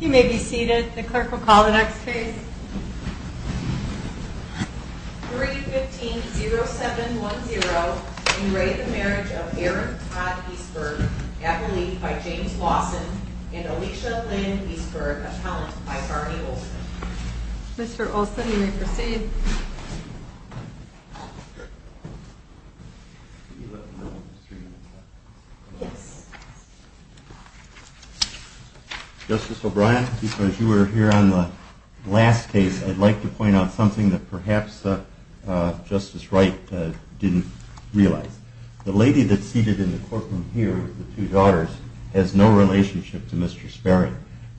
You may be seated. The clerk will call the next case. 3 15 0 7 1 0. In Ray, the marriage of Aaron Todd Eastburg at relief by James Lawson and Alicia Lynn Eastburg, a talent by Barney Olsen. Mr Olsen, you may proceed. Yes. Justice O'Brien, because you were here on the last case, I'd like to point out something that perhaps Justice Wright didn't realize. The lady that seated in the courtroom here, the two daughters, has no relationship to Mr Sperry.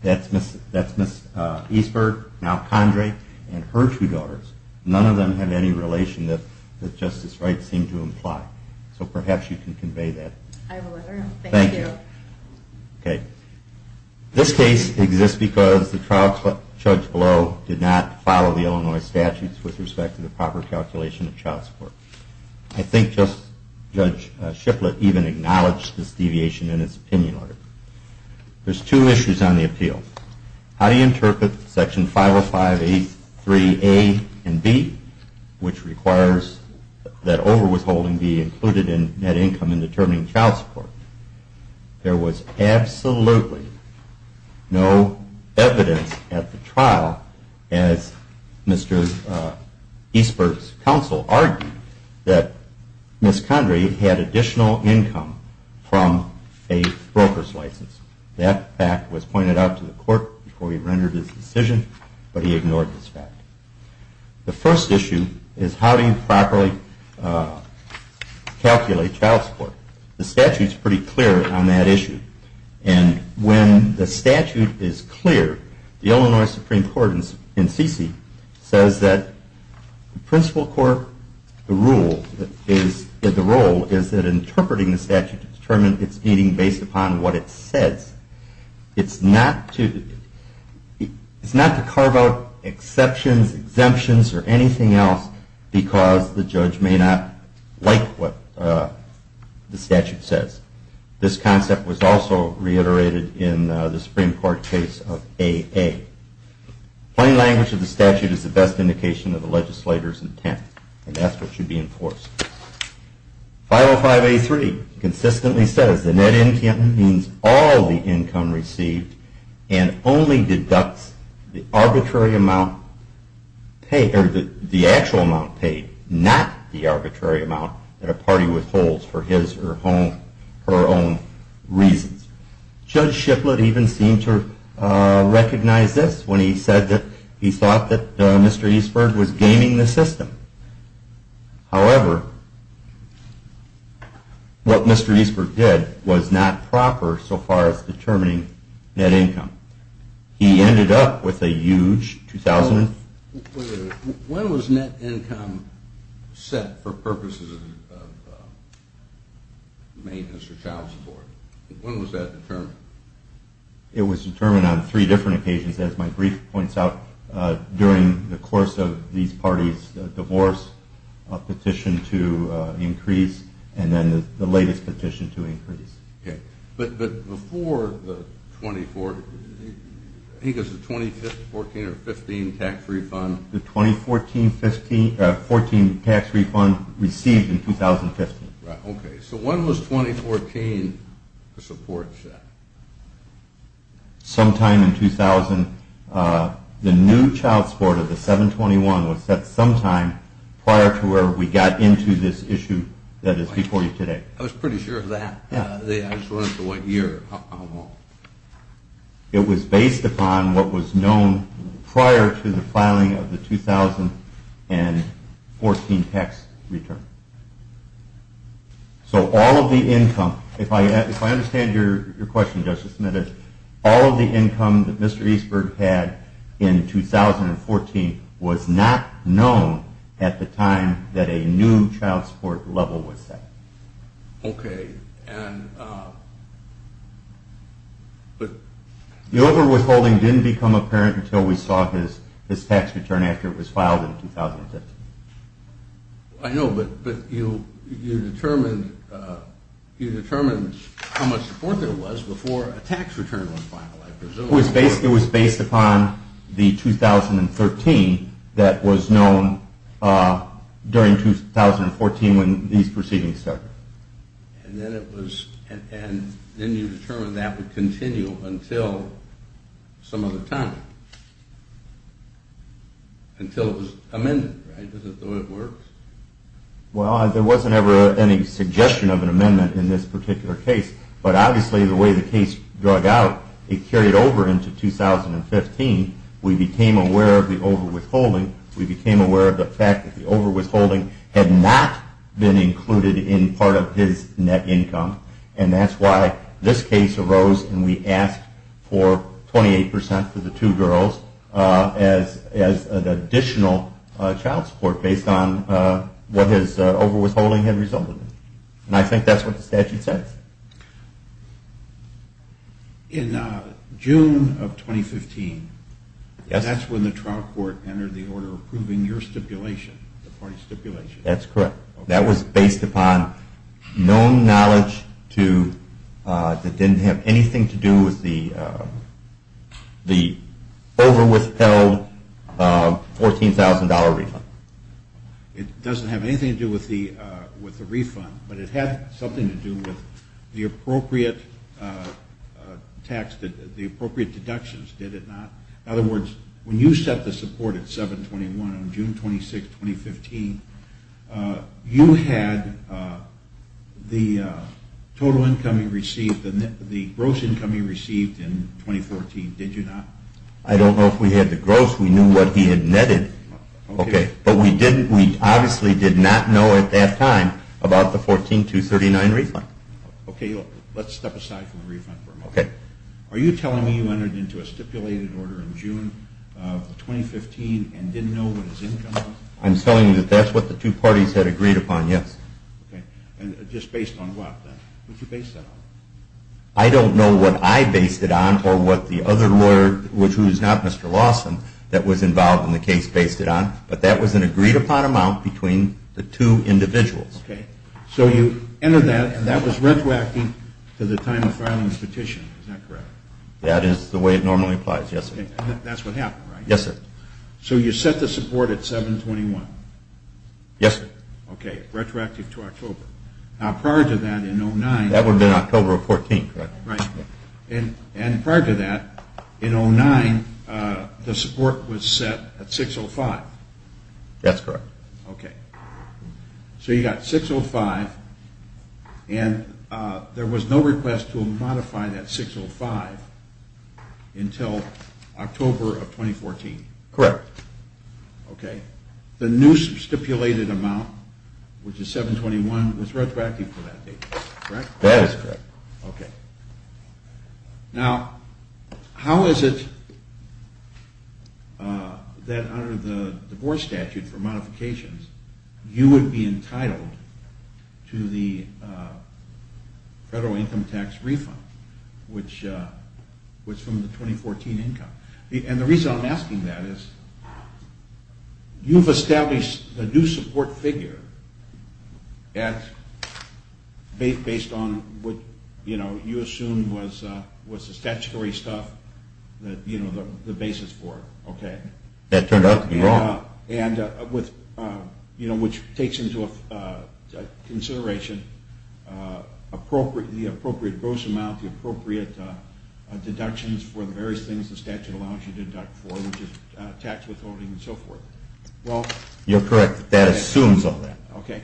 That's Miss Eastburg, now Condre, and her two daughters. None of them have any relation that Justice Wright seemed to imply. So perhaps you can convey that. Thank you. Okay. This case exists because the trial judge below did not follow the Illinois statutes with respect to the proper calculation of child support. I think Justice Judge Shiplet even acknowledged this deviation in his opinion on it. There's two issues on the appeal. How do you interpret Section 50583A and B, which requires that overwithholding be included in net income in determining child support? There was absolutely no evidence at the trial, as Mr Eastburg's counsel argued, that Miss Condre had additional income from a broker's license. That fact was pointed out to the court before he rendered his decision, but he ignored this fact. The first issue is how do you properly calculate child support? The statute's pretty clear on that issue. And when the statute is clear, the Illinois Supreme Court in CC says that the principal court, the role is that interpreting the statute to determine its meaning based upon what it says. It's not to carve out exceptions, exemptions, or anything else, because the judge may not like what the statute says. This concept was also reiterated in the Supreme Court case of AA. Plain language of the statute is the best indication of the legislator's intent, and that's what should be enforced. 50583 consistently says the net income means all the income received and only deducts the actual amount paid, not the arbitrary amount that a party withholds for his or her own reasons. Judge Shiplett even seemed to recognize this when he said that he thought that what Mr. Eastbrook did was not proper so far as determining net income. He ended up with a huge $2,000. When was net income set for purposes of maintenance or child support? When was that determined? It was determined on three different occasions. As my brief points out, during the course of these petitions to increase. But before the 2014 or 2015 tax refund? The 2014 tax refund received in 2015. Okay, so when was 2014 the support set? Sometime in 2000. The new child support of the 721 was set sometime prior to where we got into this issue that is before you today. I was pretty sure of that. I just wanted to know what year. It was based upon what was known prior to the filing of the 2014 tax return. So all of the income, if I understand your question Justice Smith, all of the income that Mr. Eastbrook had in 2014 was not known at the time that a new child support level was set. Okay. The over withholding didn't become apparent until we saw his tax return after it was filed in 2015. I know, but you determined how much support there was before a tax return was during 2014 when these proceedings started. And then it was, and then you determined that would continue until some other time. Until it was amended, right? Is that the way it works? Well, there wasn't ever any suggestion of an amendment in this particular case, but obviously the way the case drug out, it carried over into 2015. We became aware of the over withholding. We became aware of the fact that the over withholding had not been included in part of his net income. And that's why this case arose and we asked for 28% for the two girls as an additional child support based on what his over withholding had resulted in. And I think that's what the statute says. In June of 2015, that's when the trial court entered the order approving your stipulation, the party stipulation. That's correct. That was based upon known knowledge that didn't have anything to do with the over withheld $14,000 refund. It doesn't have anything to do with the refund, but it had something to do with the appropriate tax, the appropriate deductions, did it not? In other words, when you set the support at 721 on June 26, 2015, you had the total income you received, the gross income you received in 2014, did you not? I don't know if we had the gross. We knew what he had netted. Okay. But we didn't, we obviously did not know at that time about the 14239 refund. Okay. Let's step aside from the refund for a moment. Okay. Are you telling me you entered into a stipulated order in June of 2015 and didn't know what his income was? I'm telling you that that's what the two parties had agreed upon, yes. Okay. And just based on what then? What did you base that on? I don't know what I based it on or what the other lawyer, which was not Mr. Lawson, that was involved in the case based it on, but that was an agreed upon amount between the two individuals. Okay. So you entered that and that was retroactive to the time of filing the petition, is that correct? That is the way it normally applies, yes. That's what happened, right? Yes, sir. So you set the support at 721? Yes, sir. Okay. Retroactive to October. Now prior to that in 2009... That would have been October of 14, correct? Right. And prior to that, in 2005, and there was no request to modify that 605 until October of 2014? Correct. Okay. The new stipulated amount, which is 721, was retroactive for that date, correct? That is correct. Okay. Now how is it that under the divorce statute for the federal income tax refund, which was from the 2014 income, and the reason I'm asking that is you've established a new support figure at, based on what, you know, you assume was the statutory stuff that, you know, the basis for it, okay. That turned out to be wrong. And with, you know, which takes into consideration the appropriate gross amount, the appropriate deductions for the various things the statute allows you to deduct for, which is tax withholding and so forth. Well, you're correct. That assumes all that. Okay.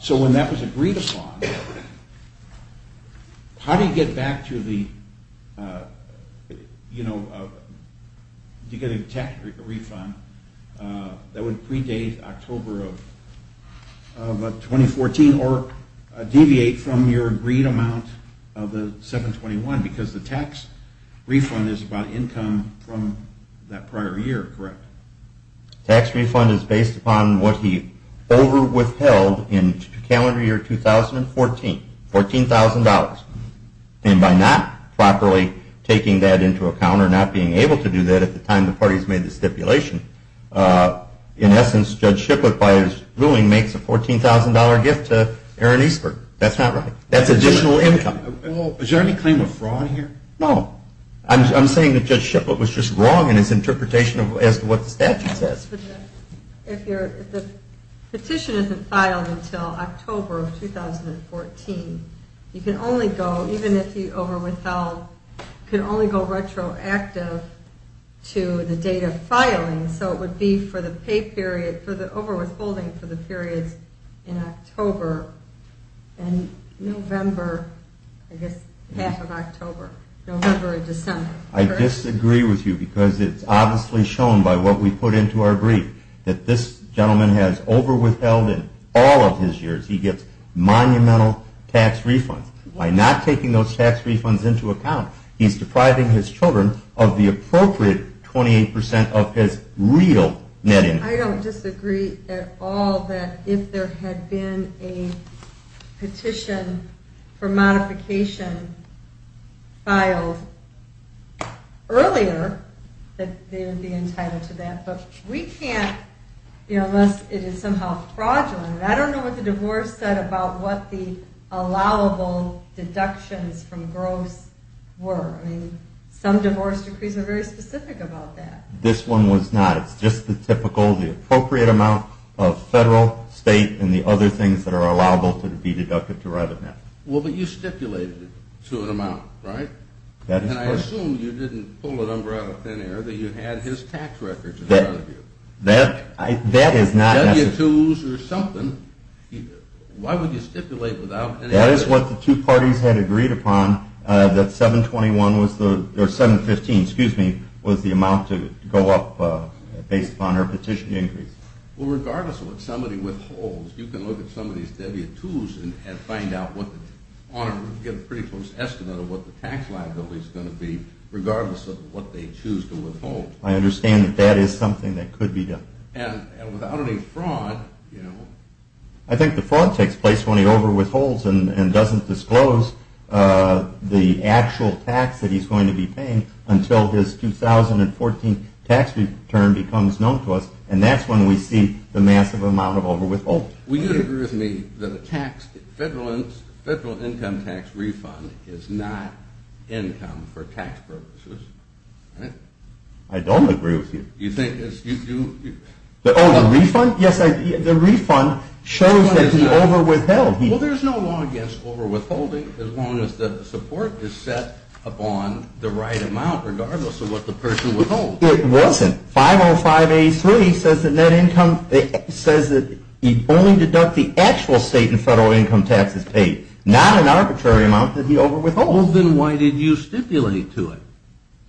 So when that was agreed upon, how do you get back to the, you know, to get a tax refund that would predate October of 2014 or deviate from your agreed amount of the 721? Because the tax refund is about income from that prior year, correct? Tax refund is based upon what he over-withheld in calendar year 2014, $14,000. And by not properly taking that into account or not being able to do that at the time the parties made the stipulation, in essence, Judge Shiplet, by his ruling, makes a $14,000 gift to Aaron Eastberg. That's not right. That's additional income. Is there any claim of fraud here? No. I'm saying that Judge Shiplet was just wrong in his petition isn't filed until October of 2014. You can only go, even if you over-withheld, you can only go retroactive to the date of filing. So it would be for the pay period, for the over-withholding for the periods in October and November, I guess half of October, November and December. I disagree with you because it's obviously shown by what we put into our brief that this gentleman has over-withheld in all of his years. He gets monumental tax refunds. By not taking those tax refunds into account, he's depriving his children of the appropriate 28% of his real net income. I don't disagree at all that if there had been a petition for modification filed earlier, that they would be entitled to that. But we can't, unless it is somehow fraudulent. I don't know what the divorce said about what the allowable deductions from gross were. I mean, some divorce decrees are very specific about that. This one was not. It's just the difficult, the appropriate amount of federal, state, and the other things that are allowable to be deducted to revenue. Well, but you stipulated it to an amount, right? That is correct. And I assume you didn't pull a number out of thin air that you had his tax records in front of you. That is not necessary. W-2s or something, why would you stipulate without any evidence? That is what the two parties had agreed upon, that 721 was the, or 715, excuse me, was the amount to go up based upon her petition increase. Well, regardless of what somebody withholds, you can look at some of these W-2s and find out what the, on a, get a pretty close estimate of what the tax liability is going to be, regardless of what they choose to withhold. I understand that that is something that could be done. And without any fraud, you know. I think the fraud takes place when he overwithholds and doesn't disclose the actual tax that he's going to be paying until his 2014 tax return becomes known to us. And that's when we see the massive amount of overwithholding. Well, you agree with me that a tax, federal income tax refund is not income for tax purposes, right? I don't agree with you. You think it's, you, you. Oh, the refund? Yes, the refund shows that he overwithheld. Well, there's no law against overwithholding as long as the support is set upon the right amount, regardless of what the person withholds. It wasn't. 505A3 says that net income, it says that he only deducts the actual state and federal income taxes paid, not an arbitrary amount that he overwithholds. Well, then why did you stipulate to it?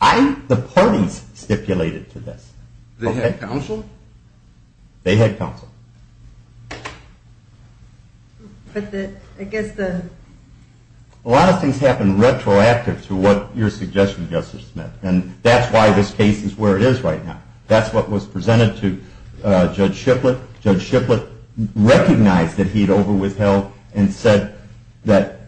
I, the parties stipulated to this. They had counsel? They had counsel. But the, I guess the. A lot of things happen retroactive to what your suggestion, Justice Smith. And that's why this case is where it is right now. That's what was presented to Judge Shiplet. Judge Shiplet recognized that he'd overwithheld and said that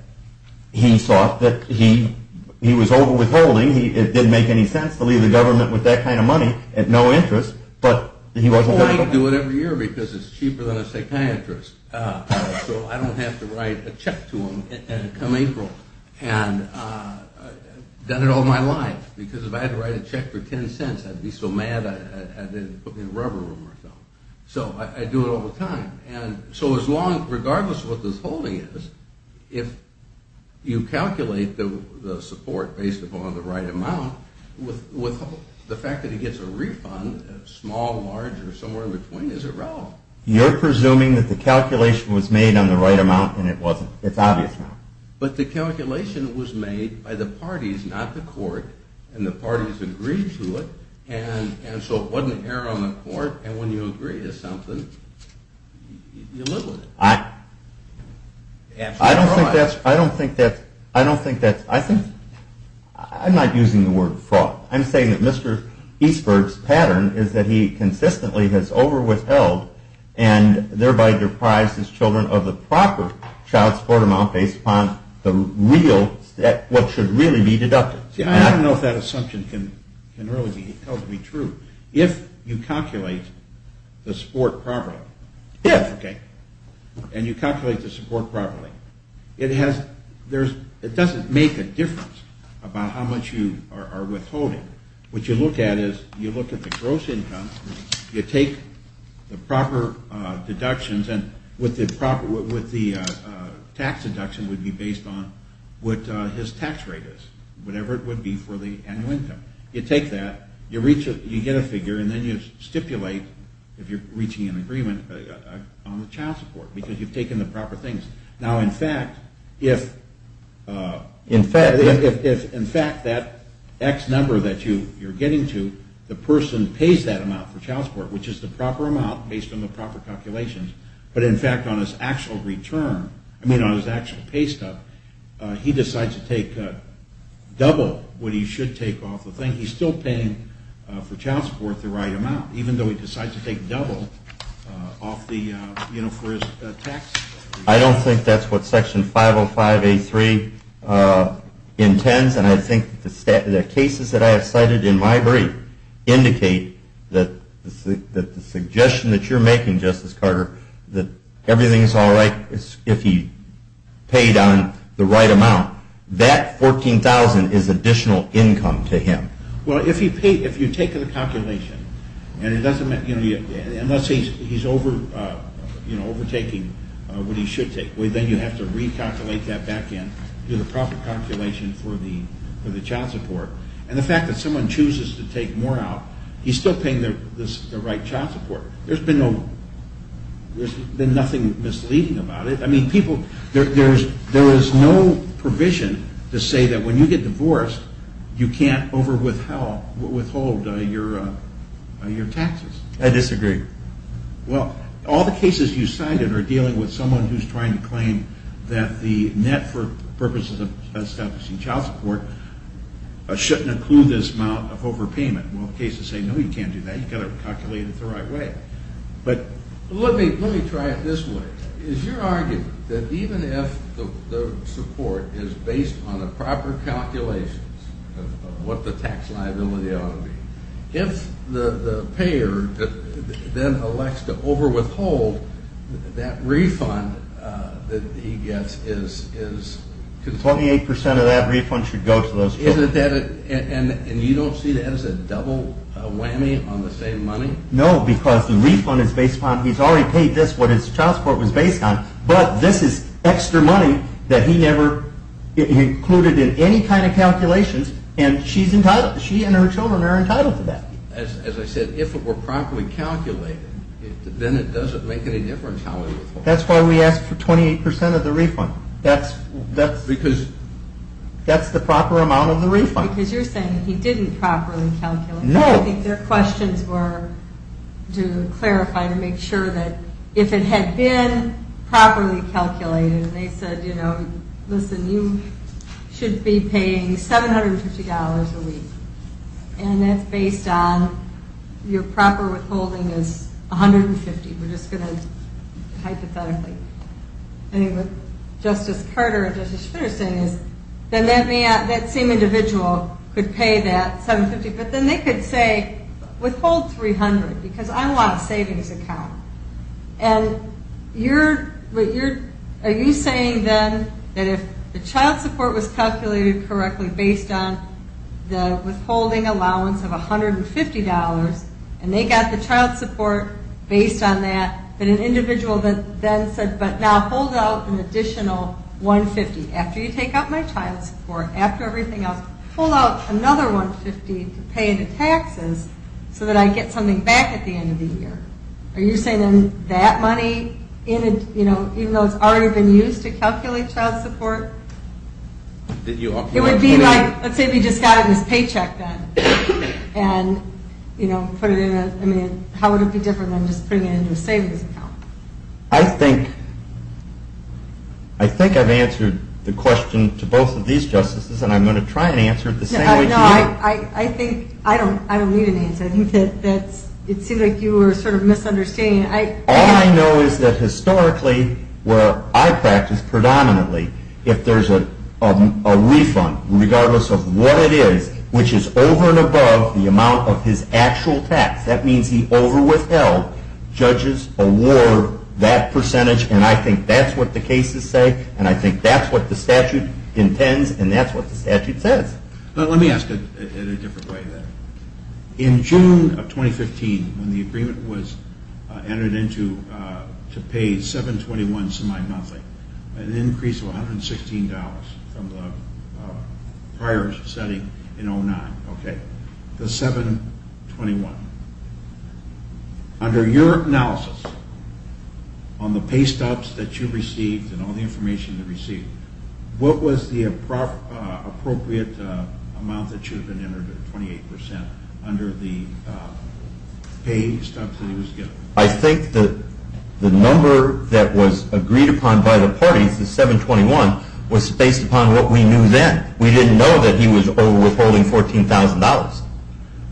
he thought that he, he was overwithholding. He, it didn't make any sense to leave the government with that kind of money at no interest. But he wasn't. Well, I do it every year because it's cheaper than a psychiatrist. So I don't have to write a check to him come April. And I've done it all my life. Because if I had to write a check for ten cents, I'd be so mad I didn't put me in a rubber room or something. So I do it all the time. And so as long, regardless of what this holding is, if you calculate the support based upon the right amount, with, the fact that he gets a refund, small, large, or somewhere in between, is irrelevant. You're presuming that the calculation was made on the right amount, and it wasn't. It's obvious now. But the calculation was made by the parties, not the court. And the parties agreed to it, and, and so it wasn't error on the court. And when you agree to something, you live with it. I, I don't think that's, I don't think that's, I don't think that's, I think, I'm not using the word fraud. I'm saying that Mr. Eastberg's pattern is that he consistently has over-withheld and thereby deprives his children of the proper child support amount based upon the real, what should really be deducted. See, I don't know if that assumption can, can really be held to be true. If you calculate the support properly, if, okay, and you calculate the support properly, it has, there's, it doesn't make a difference about how much you are, are withholding. What you look at is, you look at the gross income, you take the proper deductions, and with the proper, with the tax deduction would be based on what his tax rate is, whatever it would be for the annual income. You take that, you reach a, you get a figure, and then you stipulate, if you're reaching an agreement, on the child support, because you've taken the proper things. Now, in fact, if, in fact, if, if, in fact, that X number that you, you're getting to, the person pays that amount for child support, which is the proper amount, based on the proper calculations, but in fact, on his actual return, I mean, on his actual pay stub, he decides to take double what he should take off the thing. He's still paying for child support the right amount, even though he decides to take double off the, you know, for his tax. I don't think that's what section 505A3 intends, and I think the cases that I have cited in my brief indicate that the suggestion that you're making, Justice Carter, that everything's all right if he paid on the right amount. That $14,000 is additional income to him. Well, if he paid, if you take the calculation, and it doesn't, you know, unless he's, he's over, you know, overtaking what he should take, well, then you have to recalculate that back in, do the proper calculation for the, for the child support, and the fact that someone chooses to take more out, he's still paying the, the, the right child support. There's been no, there's been nothing misleading about it. I mean, people, there, there's, there is no provision to say that when you get divorced, you can't overwithheld, withhold your, your taxes. I disagree. Well, all the cases you cited are dealing with someone who's trying to claim that the net for purposes of establishing child support shouldn't include this amount of overpayment. Well, cases say, no, you can't do that, you've got to calculate it the right way. But, let me, let me try it this way. Is your argument that even if the, the support is based on a proper calculations of, of what the tax liability ought to be, if the, the payer then elects to overwithhold, that refund that he gets is, is. 28% of that refund should go to those children. Isn't that a, and, and you don't see that as a double whammy on the same money? No, because the refund is based upon, he's already paid this, what his child support was based on. But, this is extra money that he never included in any kind of calculations, and she's entitled, she and her children are entitled to that. As, as I said, if it were properly calculated, then it doesn't make any difference how we withhold. That's why we asked for 28% of the refund. That's, that's. Because. That's the proper amount of the refund. Because you're saying he didn't properly calculate. No. I think their questions were to clarify, to make sure that if it had been properly calculated, and they said, you know, listen, you should be paying $750 a week. And that's based on your proper withholding is $150. We're just going to, hypothetically. Anyway, Justice Carter and Justice Spitter saying is, then that may, that same individual could pay that $750, but then they could say, withhold $300, because I want a savings account. And you're, what you're, are you saying then, that if the child support was calculated correctly based on the withholding allowance of $150, and they got the child support based on that, that an individual then said, but now hold out an additional $150. After you take out my child support, after everything else, pull out another $150 to pay the taxes, so that I get something back at the end of the year. Are you saying then, that money, even though it's already been used to calculate child support, it would be like, let's say if he just got it in his paycheck then, and put it in a, I mean, how would it be different than just putting it into a savings account? I think, I think I've answered the question to both of these justices, and I'm going to try and answer it the same way to you. I think, I don't need an answer. I think that that's, it seemed like you were sort of misunderstanding. I, All I know is that historically, where I practice predominantly, if there's a refund, regardless of what it is, which is over and above the amount of his actual tax, that means he overwithheld. Judges award that percentage, and I think that's what the cases say, and I think that's what the statute intends, and that's what the statute says. But let me ask it in a different way then. In June of 2015, when the agreement was entered into to pay 721 semi-monthly, an increase of $116 from the prior setting in 09, okay? The 721, under your analysis on the pay stops that you received and all the information that you received, what was the appropriate amount that should have been entered at 28% under the pay stubs that he was given? I think that the number that was agreed upon by the parties, the 721, was based upon what we knew then. We didn't know that he was over withholding $14,000.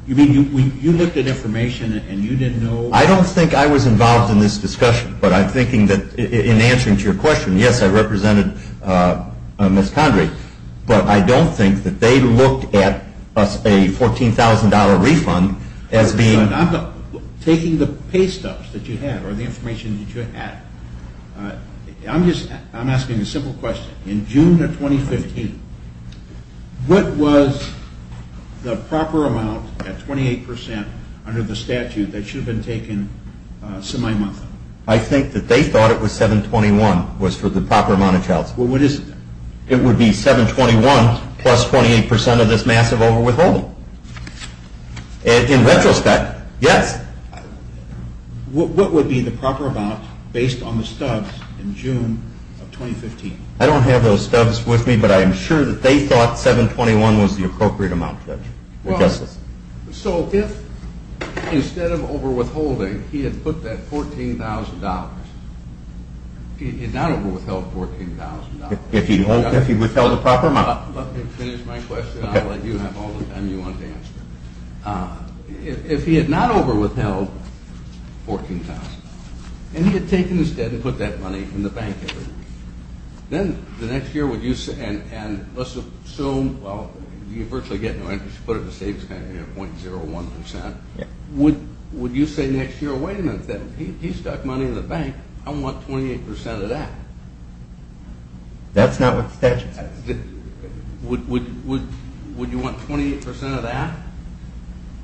You mean, you looked at information and you didn't know- I don't think I was involved in this discussion, but I'm thinking that in answering to your question, yes, I represented Ms. Condrey. But I don't think that they looked at a $14,000 refund as being- I'm not taking the pay stubs that you had or the information that you had. I'm just, I'm asking a simple question. In June of 2015, what was the proper amount at 28% under the statute that should have been taken semi-monthly? I think that they thought it was 721 was for the proper amount of child support. Well, what is it then? It would be 721 plus 28% of this massive over-withholding, in retrospect, yes. What would be the proper amount based on the stubs in June of 2015? I don't have those stubs with me, but I am sure that they thought 721 was the appropriate amount, Judge. Well, so if instead of over withholding, he had put that $14,000, he had not over withheld $14,000. If he'd withheld the proper amount. Let me finish my question. I'll let you have all the time you want to answer. If he had not over withheld $14,000, and he had taken this debt and put that money in the bank, then the next year, would you say, and let's assume, well, you virtually get no interest, you put it in the state, it's going to be at 0.01%. Would you say next year, wait a minute, he stuck money in the bank, I want 28% of that. That's not what the statute says. Would you want 28% of that?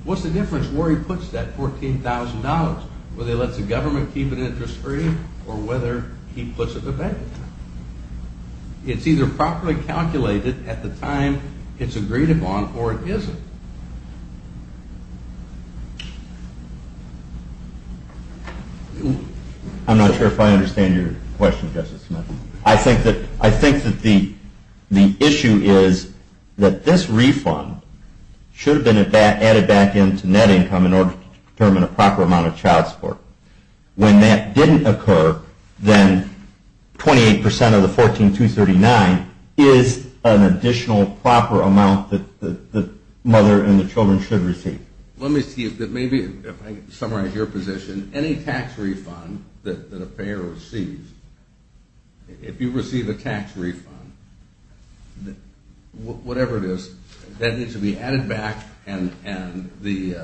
What's the difference where he puts that $14,000? Whether he lets the government keep an interest free, or whether he puts it in the bank? It's either properly calculated at the time it's agreed upon, or it isn't. I'm not sure if I understand your question, Justice Smith. I think that the issue is that this refund should have been added back into net income in order to determine a proper amount of child support. When that didn't occur, then 28% of the 14,239 is an additional proper amount that the mother and the children should receive. Let me see if it may be, if I can summarize your position. Any tax refund that a payer receives, if you receive a tax refund, whatever it is, that needs to be added back, and the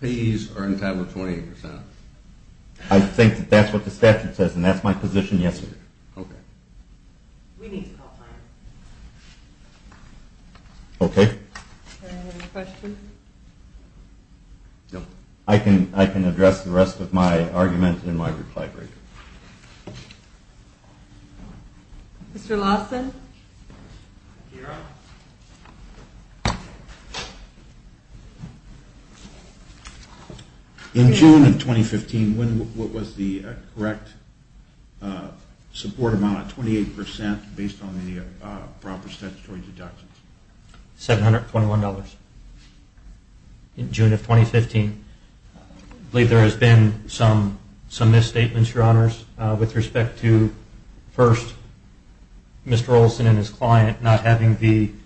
payees are entitled to 28%. I think that's what the statute says, and that's my position, yes, Your Honor. Okay. We need to call time. Okay. Any other questions? No. I can address the rest of my argument in my reply break. Mr. Lawson? In June of 2015, what was the correct support amount at 28% based on the proper statutory deductions? $721. In June of 2015, I believe there has been some misstatements, Your Honors. With respect to, first, Mr. Olson and his client not having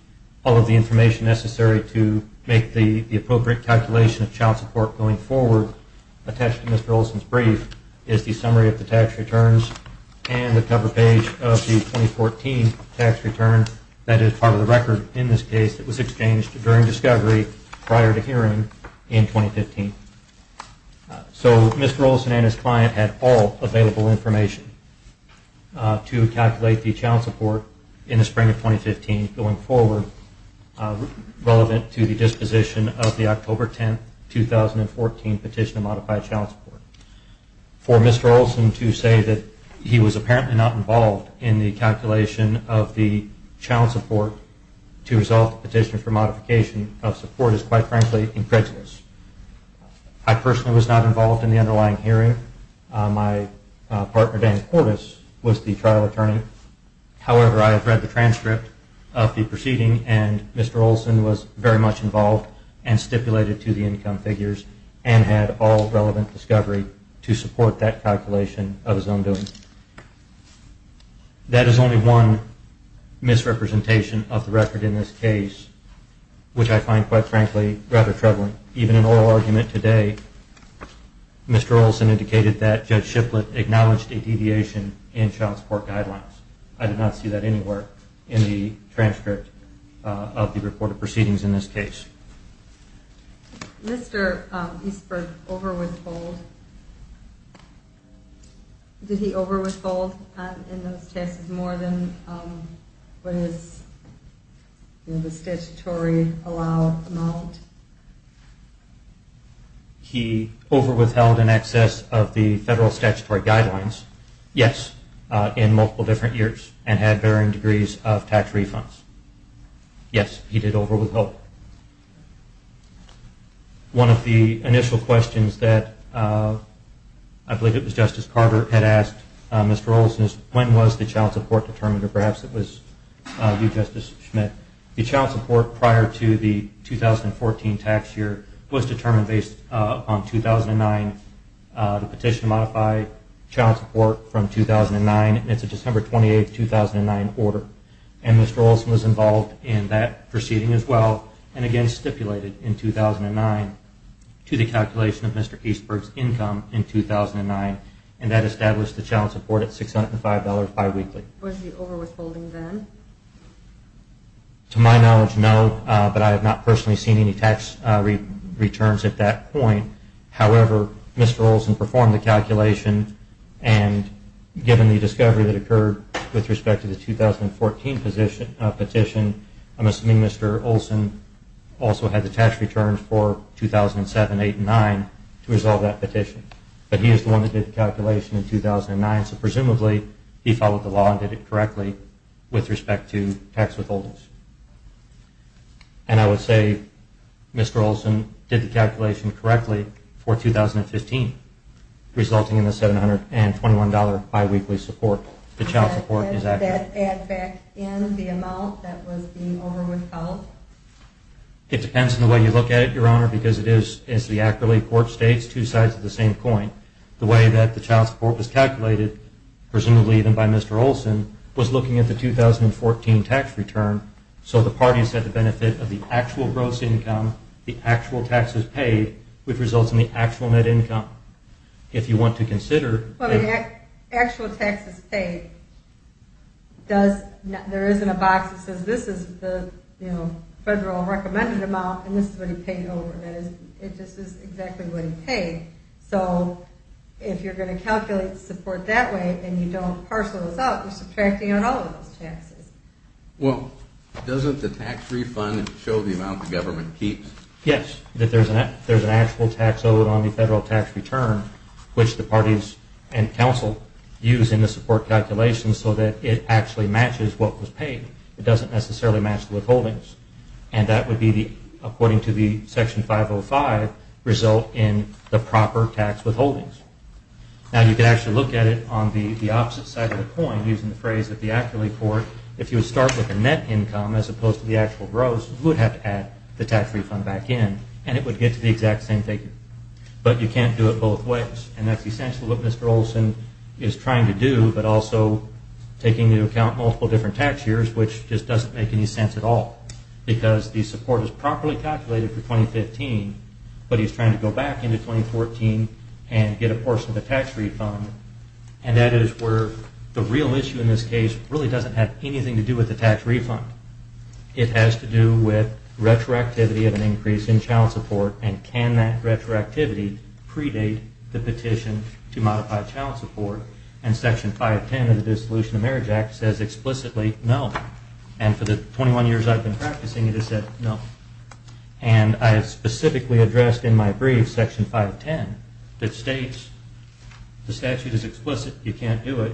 all of the information necessary to make the appropriate calculation of child support going forward, attached to Mr. Olson's brief is the summary of the tax returns and the cover page of the 2014 tax return that is part of the record in this case that was exchanged during discovery prior to hearing in 2015. So Mr. Olson and his client had all available information to calculate the child support in the spring of 2015 going forward relevant to the disposition of the October 10, 2014 petition to modify child support. For Mr. Olson to say that he was apparently not involved in the calculation of the child support to resolve the petition for modification of support is quite frankly incredulous. I personally was not involved in the underlying hearing. My partner, Dan Cordes, was the trial attorney. However, I have read the transcript of the proceeding and Mr. Olson was very much involved and stipulated to the income figures and had all relevant discovery to support that calculation of his own doing. That is only one misrepresentation of the record in this case, which I find quite frankly rather troubling. Even in oral argument today, Mr. Olson indicated that Judge Shiplett acknowledged a deviation in child support guidelines. I did not see that anywhere in the transcript of the reported proceedings in this case. Did Mr. Eastberg over-withhold in those taxes more than what is the statutory allowed amount? He over-withheld in excess of the federal statutory guidelines, yes, in multiple different years and had varying degrees of tax refunds. Yes, he did over-withhold. One of the initial questions that I believe it was Justice Carter had asked Mr. Olson is when was the child support determined, or perhaps it was you, Justice Schmidt. The child support prior to the 2014 tax year was determined based on 2009, the petition to modify child support from 2009. It's a December 28, 2009 order. Mr. Olson was involved in that proceeding as well, and again stipulated in 2009 to the calculation of Mr. Eastberg's income in 2009, and that established the child support at $605 bi-weekly. Was he over-withholding then? To my knowledge, no, but I have not personally seen any tax returns at that point. However, Mr. Olson performed the calculation, and given the discovery that occurred with respect to the 2014 petition, I'm assuming Mr. Olson also had the tax returns for 2007, 2008, and 2009 to resolve that petition. But he is the one that did the calculation in 2009, so presumably he followed the law and did it correctly with respect to tax withholdings. And I would say Mr. Olson did the calculation correctly for 2015, resulting in the $721 bi-weekly support. The child support is accurate. Does that add back in the amount that was being over-withheld? It depends on the way you look at it, Your Honor, because it is, as the Accolade Court states, two sides of the same coin. The way that the child support was calculated, presumably even by Mr. Olson, was looking at the 2014 tax return, so the parties had the benefit of the actual gross income, the actual taxes paid, which results in the actual net income. If you want to consider... Actual taxes paid. There isn't a box that says, this is the federal recommended amount, and this is what he paid over. This is exactly what he paid. So if you're going to calculate support that way, and you don't parcel those out, you're subtracting out all of those taxes. Well, doesn't the tax refund show the amount the government keeps? Yes, that there's an actual tax owed on the federal tax return, which the parties and counsel use in the support calculations so that it actually matches what was paid. It doesn't necessarily match the withholdings. And that would be, according to the Section 505, result in the proper tax withholdings. Now, you can actually look at it on the opposite side of the coin, using the phrase that the Accolade Court, if you would start with the net income, as opposed to the actual gross, you would have to add the tax refund back in, and it would get to the exact same figure. But you can't do it both ways, and that's essential what Mr. Olson is trying to do, but also taking into account multiple different tax years, which just doesn't make any sense at all, because the support is properly calculated for 2015, but he's trying to go back into 2014 and get a portion of the tax refund, and that is where the real issue in this case really doesn't have anything to do with the tax refund. It has to do with retroactivity of an increase in child support, and can that retroactivity predate the petition to modify child support? And Section 510 of the Dissolution of Marriage Act says explicitly, no. And for the 21 years I've been practicing, it has said, no. And I have specifically addressed in my brief, Section 510, that states the statute is explicit, you can't do it,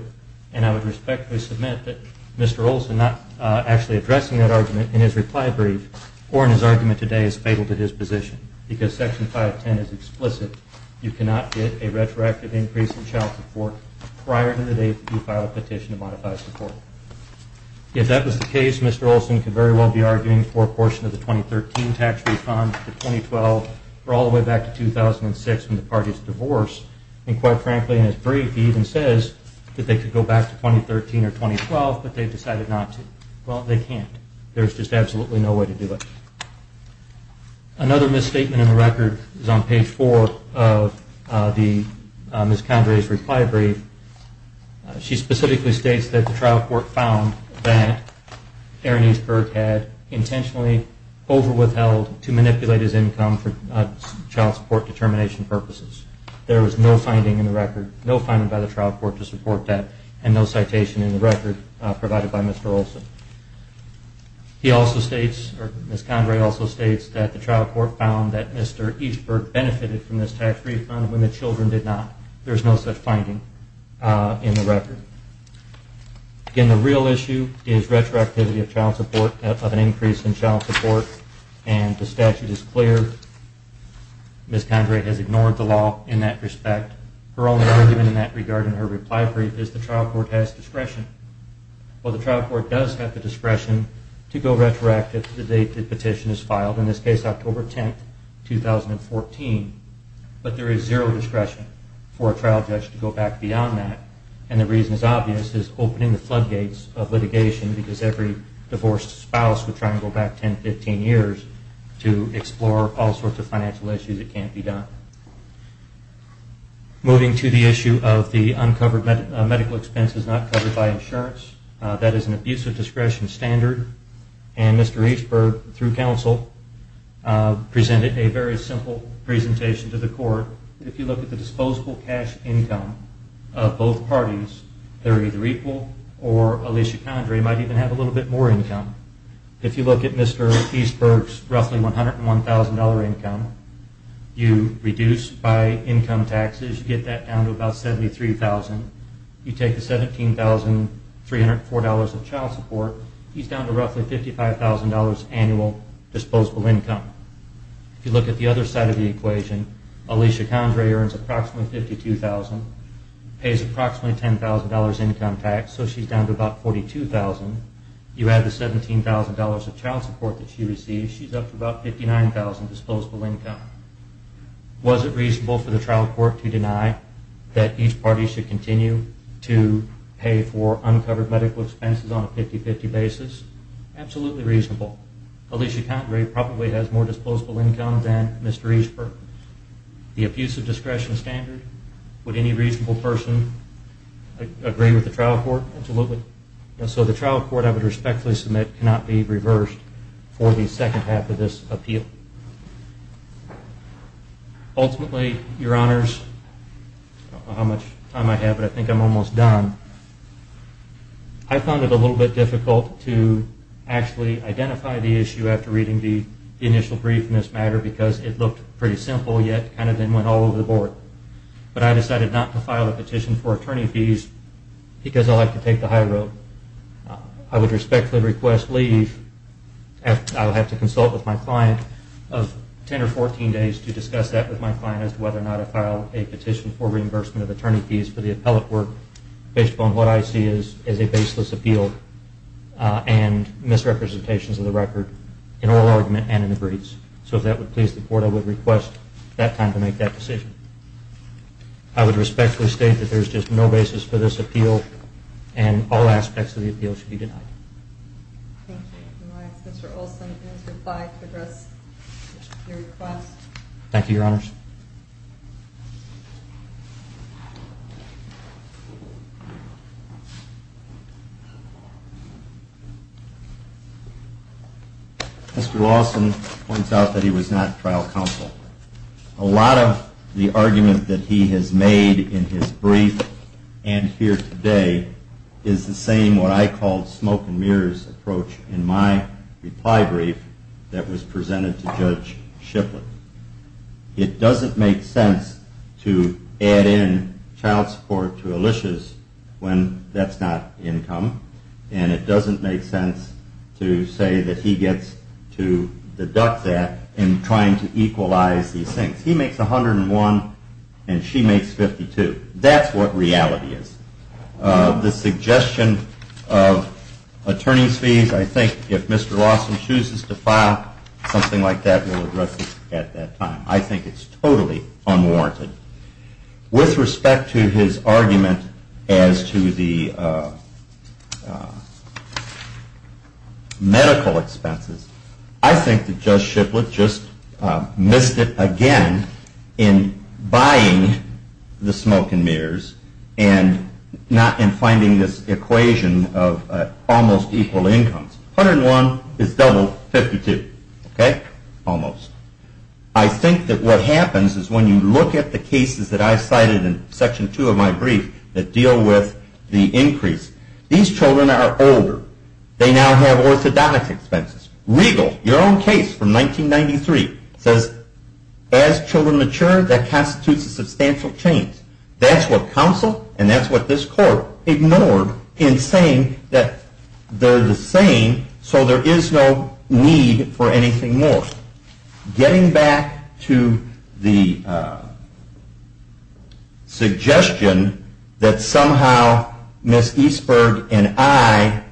and I would respectfully submit that Mr. Olson not actually addressing that argument in his reply brief or in his argument today is fatal to his position, because Section 510 is explicit. You cannot get a retroactive increase in child support prior to the date that you file a petition to modify support. If that was the case, Mr. Olson could very well be arguing for a portion of the 2013 tax refund for 2012 or all the way back to 2006 when the parties divorced, and quite frankly, in his brief, he even says that they could go back to 2013 or 2012, but they've decided not to. Well, they can't. There's just absolutely no way to do it. Another misstatement in the record is on page 4 of Ms. Condrey's reply brief. She specifically states that the trial court found that Aaron Eastberg had intentionally overwithheld to manipulate his income for child support determination purposes. There was no finding in the record, no finding by the trial court to support that, and no citation in the record provided by Mr. Olson. Ms. Condrey also states that the trial court found that Mr. Eastberg benefited from this tax refund when the children did not. There's no such finding in the record. Again, the real issue is retroactivity of child support, of an increase in child support, and the statute is clear. Ms. Condrey has ignored the law in that respect. Her only argument in that regard in her reply brief is the trial court has discretion. Well, the trial court does have the discretion to go retroactive to the date the petition is filed, in this case October 10, 2014, but there is zero discretion for a trial judge to go back beyond that, and the reason is obvious, is opening the floodgates of litigation because every divorced spouse would try and go back 10, 15 years to explore all sorts of financial issues that can't be done. Moving to the issue of the uncovered medical expenses not covered by insurance, that is an abusive discretion standard, and Mr. Eastberg, through counsel, presented a very simple presentation to the court. If you look at the disposable cash income of both parties, they're either equal, or Alicia Condrey might even have a little bit more income. If you look at Mr. Eastberg's roughly $101,000 income, you reduce by income taxes, you get that down to about $73,000. You take the $17,304 of child support, he's down to roughly $55,000 annual disposable income. If you look at the other side of the equation, Alicia Condrey earns approximately $52,000, pays approximately $10,000 income tax, so she's down to about $42,000. You add the $17,000 of child support that she receives, she's up to about $59,000 disposable income. Was it reasonable for the trial court to deny that each party should continue to pay for uncovered medical expenses on a 50-50 basis? Absolutely reasonable. Alicia Condrey probably has more disposable income than Mr. Eastberg. The abusive discretion standard, would any reasonable person agree with the trial court? Absolutely. So the trial court, I would respectfully submit, cannot be reversed for the second half of this appeal. Ultimately, Your Honors, I don't know how much time I have, but I think I'm almost done. I found it a little bit difficult to actually identify the issue after reading the initial brief in this matter because it looked pretty simple, yet kind of then went all over the board. But I decided not to file a petition for attorney fees because I like to take the high road. I would respectfully request leave and I will have to consult with my client of 10 or 14 days to discuss that with my client as to whether or not I file a petition for reimbursement of attorney fees for the appellate work based upon what I see as a baseless appeal and misrepresentations of the record in oral argument and in the briefs. So if that would please the court, I would request that time to make that decision. I would respectfully state that there is just no basis for this appeal and all aspects of the appeal should be denied. Thank you. Mr. Olsen has replied to address your request. Thank you, Your Honors. Mr. Olsen points out that he was not trial counsel. A lot of the argument that he has made in his testimony today is the same what I called smoke and mirrors approach in my reply brief that was presented to Judge Shipley. It doesn't make sense to add in child support to Alicia's when that's not income and it doesn't make sense to say that he gets to deduct that in trying to equalize these things. He makes 101 and she makes 52. That's what reality is. The suggestion of attorney's fees I think if Mr. Lawson chooses to file something like that we'll address it at that time. I think it's totally unwarranted. With respect to his argument as to the medical expenses I think that Judge Shipley just missed it again in buying the smoke and mirrors and not in finding this equation of almost equal incomes. 101 is double 52. Almost. I think that what happens is when you look at the cases that I cited in section 2 of my brief that deal with the increase. These children are older. They now have orthodontic expenses. Regal, your own case from 1993 says as children mature that constitutes a substantial change. That's what counsel and that's what this court ignored in saying that they're the same so there is no need for anything more. Getting back to the suggestion that somehow Ms. Eastberg and I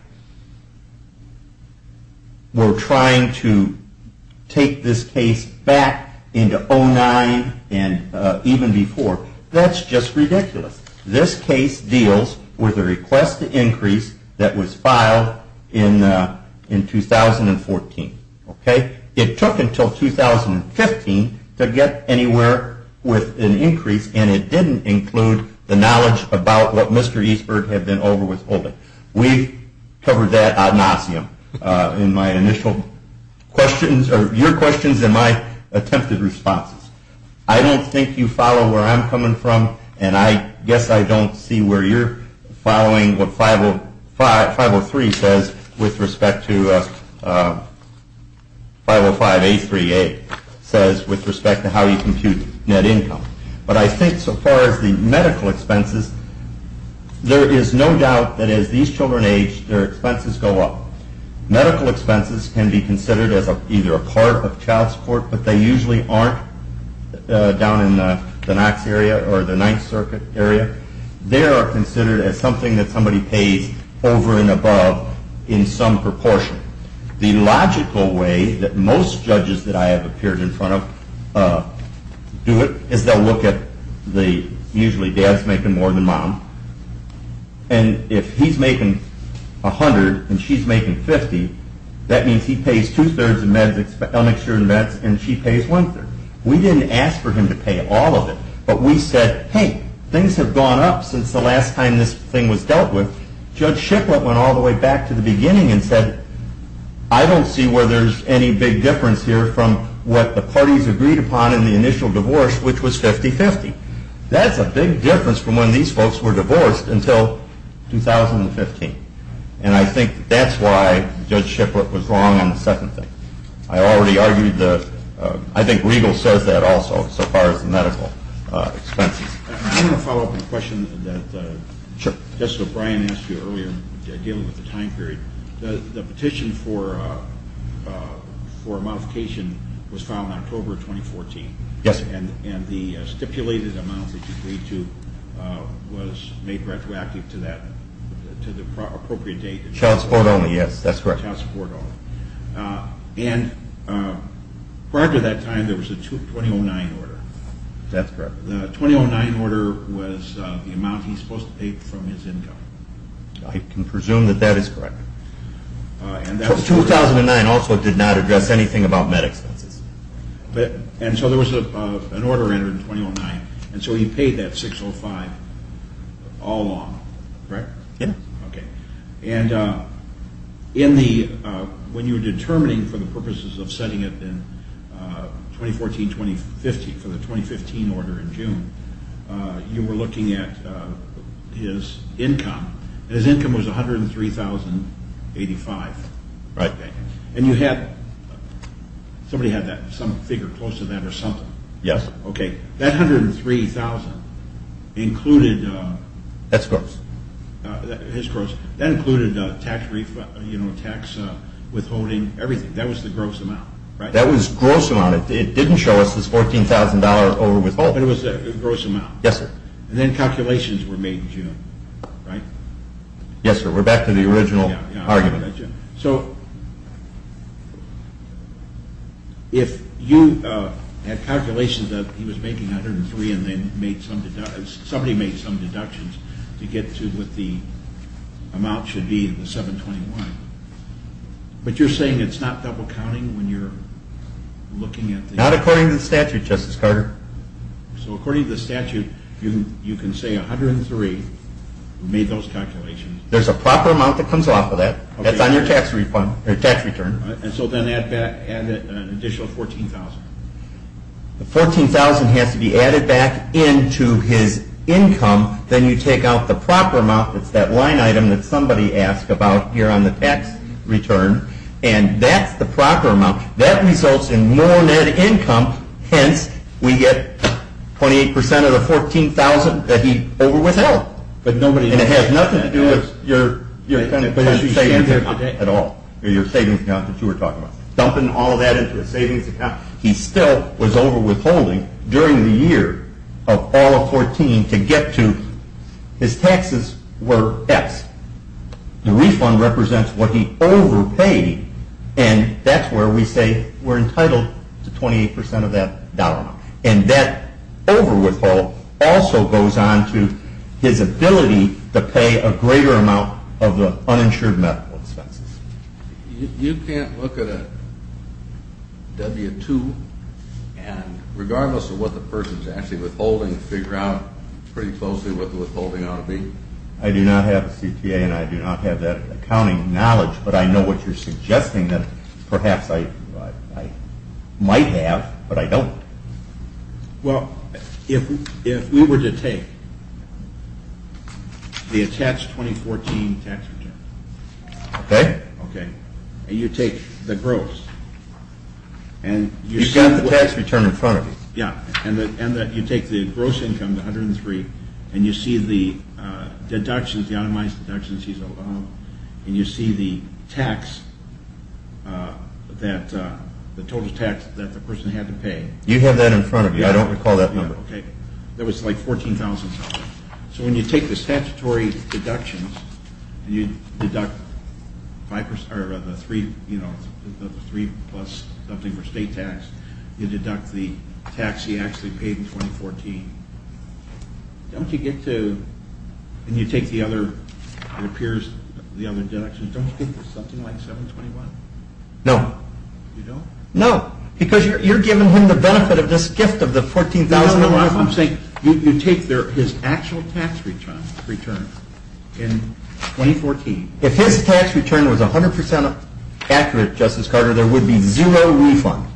were trying to take this case back into 2009 and even before. That's just ridiculous. This case deals with a request to increase that was filed in 2014. It took until 2015 to get anywhere with an increase and it didn't include the knowledge about what Mr. Eastberg had been over withholding. We've covered that ad nauseum in my initial questions or your questions and my attempted responses. I don't think you follow where I'm coming from and I guess I don't see where you're following what 503 says with respect to 505 838 says with respect to how you compute net income but I think so far as the medical expenses there is no doubt that as these children age their expenses go up. Medical expenses can be considered as either a part of child support but they usually aren't down in the Knox area or the Ninth Circuit area. They are considered as something that somebody pays over and above in some proportion. The logical way that most judges that I have appeared in front of do it is they'll look at the usually dad's making more than mom and if he's making $100 and she's making $50 that means he pays two-thirds of meds and she pays one-third. We didn't ask for him to pay all of it but we said hey things have gone up since the last time this thing was dealt with. Judge Shipplett went all the way back to the beginning and said I don't see where there's any big difference here from what the parties agreed upon in the initial divorce which was 50-50. That's a big difference from when these folks were divorced until 2015. I think that's why Judge Shipplett was wrong on the second thing. I already argued that I think Regal says that also so far as the medical expenses. I want to follow up on a question that Justice O'Brien asked you earlier dealing with the time period. The petition for a modification was filed in October 2014 and the stipulated amount that you paid to was made retroactive to that to the appropriate date. Child support only, yes, that's correct. Child support only. Prior to that time there was a 2009 order. That's correct. The 2009 order was the amount he was supposed to pay from his income. I can presume that that is correct. 2009 also did not address anything about med expenses. So there was an order entered in 2009 and so he paid that $605,000 all along, correct? Yes. When you were determining for the purposes of setting it in 2014-2015 for the 2015 order in June you were looking at his income. His income was $103,085. Right. Somebody had some figure close to that or something. That $103,000 included That's gross. That included tax withholding, everything. That was the gross amount. It didn't show us this $14,000 over withholding. It was a gross amount. Then calculations were made in June. Yes sir, we're back to the original argument. If you had calculations that he was making $103,000 and then somebody made some deductions to get to what the amount should be in the 721 but you're saying it's not double counting when you're looking at the... Not according to the statute, Justice Carter. So according to the statute, you can say $103,000 We made those calculations. There's a proper amount that comes off of that. That's on your tax return. So then add an additional $14,000. The $14,000 has to be added back into his income then you take out the proper amount it's that line item that somebody asked about here on the tax return and that's the proper amount. That results in more net income, hence we get 28% of the $14,000 that he over withheld and it has nothing to do with your savings account at all. Dumping all of that into his savings account. He still was over withholding during the year of all of 14 to get to his taxes were X. The refund represents what he over paid and that's where we say we're entitled to 28% of that dollar. And that over withhold also goes on to his ability to pay a greater amount of the uninsured medical expenses. You can't look at a W-2 and regardless of what the person is actually withholding figure out pretty closely what the withholding ought to be. I do not have a CTA and I do not have that accounting knowledge but I know what you're suggesting that perhaps I might have but I don't. Well, if we were to take the attached 2014 tax return and you take the gross You've got the tax return in front of you. You take the gross income, the $103,000 and you see the deductions, the automized deductions and you see the tax that the total tax that the person had to pay. You have that in front of you. I don't recall that number. That was like $14,000. So when you take the statutory deductions and you deduct the 3 plus something for state tax, you deduct the Don't you get to, and you take the other, it appears the other deductions, don't you get something like $721,000? No. You don't? No. Because you're giving him the benefit of this gift of the $14,000. I'm saying you take his actual tax return in 2014. If his tax return was 100% accurate, Justice Carter, there would be zero refund.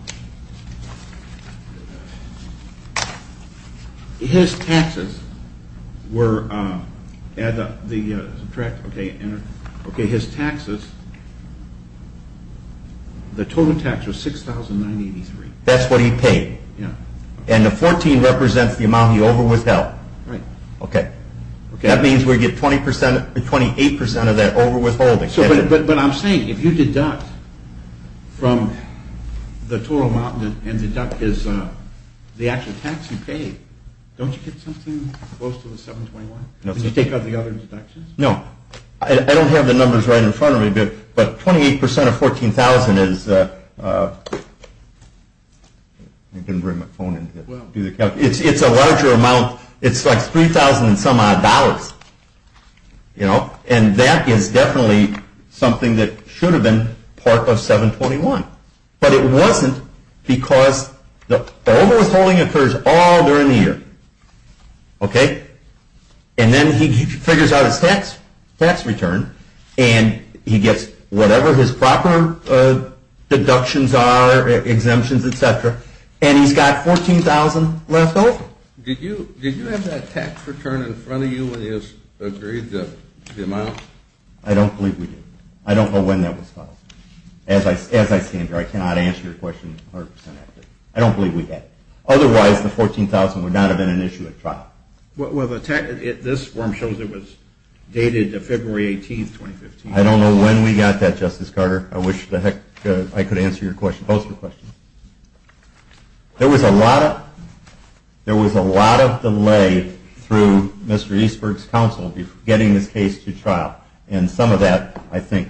His taxes were subtract his taxes the total tax was $6,983. That's what he paid. And the 14 represents the amount he overwithheld. That means we get 28% of that overwithholding. But I'm saying if you deduct from the total amount and deduct the actual tax you paid, don't you get something close to the $721,000? Did you take out the other deductions? No. I don't have the numbers right in front of me, but 28% of $14,000 is I didn't bring my phone in. It's a larger amount. It's like $3,000 and some odd dollars. And that is definitely something that should have been part of $721,000. But it wasn't because the overwithholding occurs all during the year. Okay? And then he figures out his tax return and he gets whatever his proper deductions are exemptions, etc. And he's got $14,000 left over. Did you have that tax return in front of you when you agreed the amount? I don't believe we did. I don't know when that was filed. As I stand here I cannot answer your question 100% accurately. I don't believe we did. Otherwise the $14,000 would not have been an issue at trial. This form shows it was dated February 18, 2015. I don't know when we got that, Justice Carter. I wish I could answer both of your questions. There was a lot of delay through Mr. Eastberg's counsel getting this case to trial. And some of that, I think,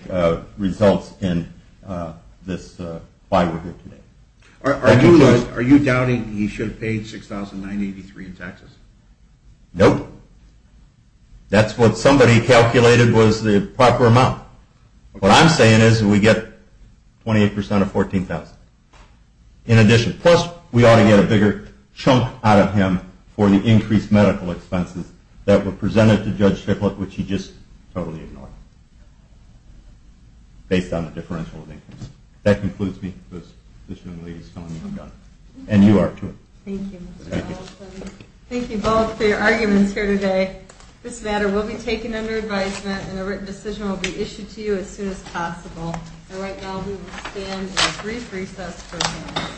results in why we're here today. Are you doubting he should have paid $6,983 in taxes? Nope. That's what somebody calculated was the proper amount. What I'm saying is we get 28% of $14,000 in addition. Plus, we ought to get a bigger chunk out of him for the increased medical expenses that were presented to Judge Strickland, which he just totally ignored. Based on the differential of income. That concludes me. And you are, too. Thank you both for your arguments here today. This matter will be taken under advisement and a written decision will be issued to you as soon as possible. And right now we will stand in a brief recess for a moment.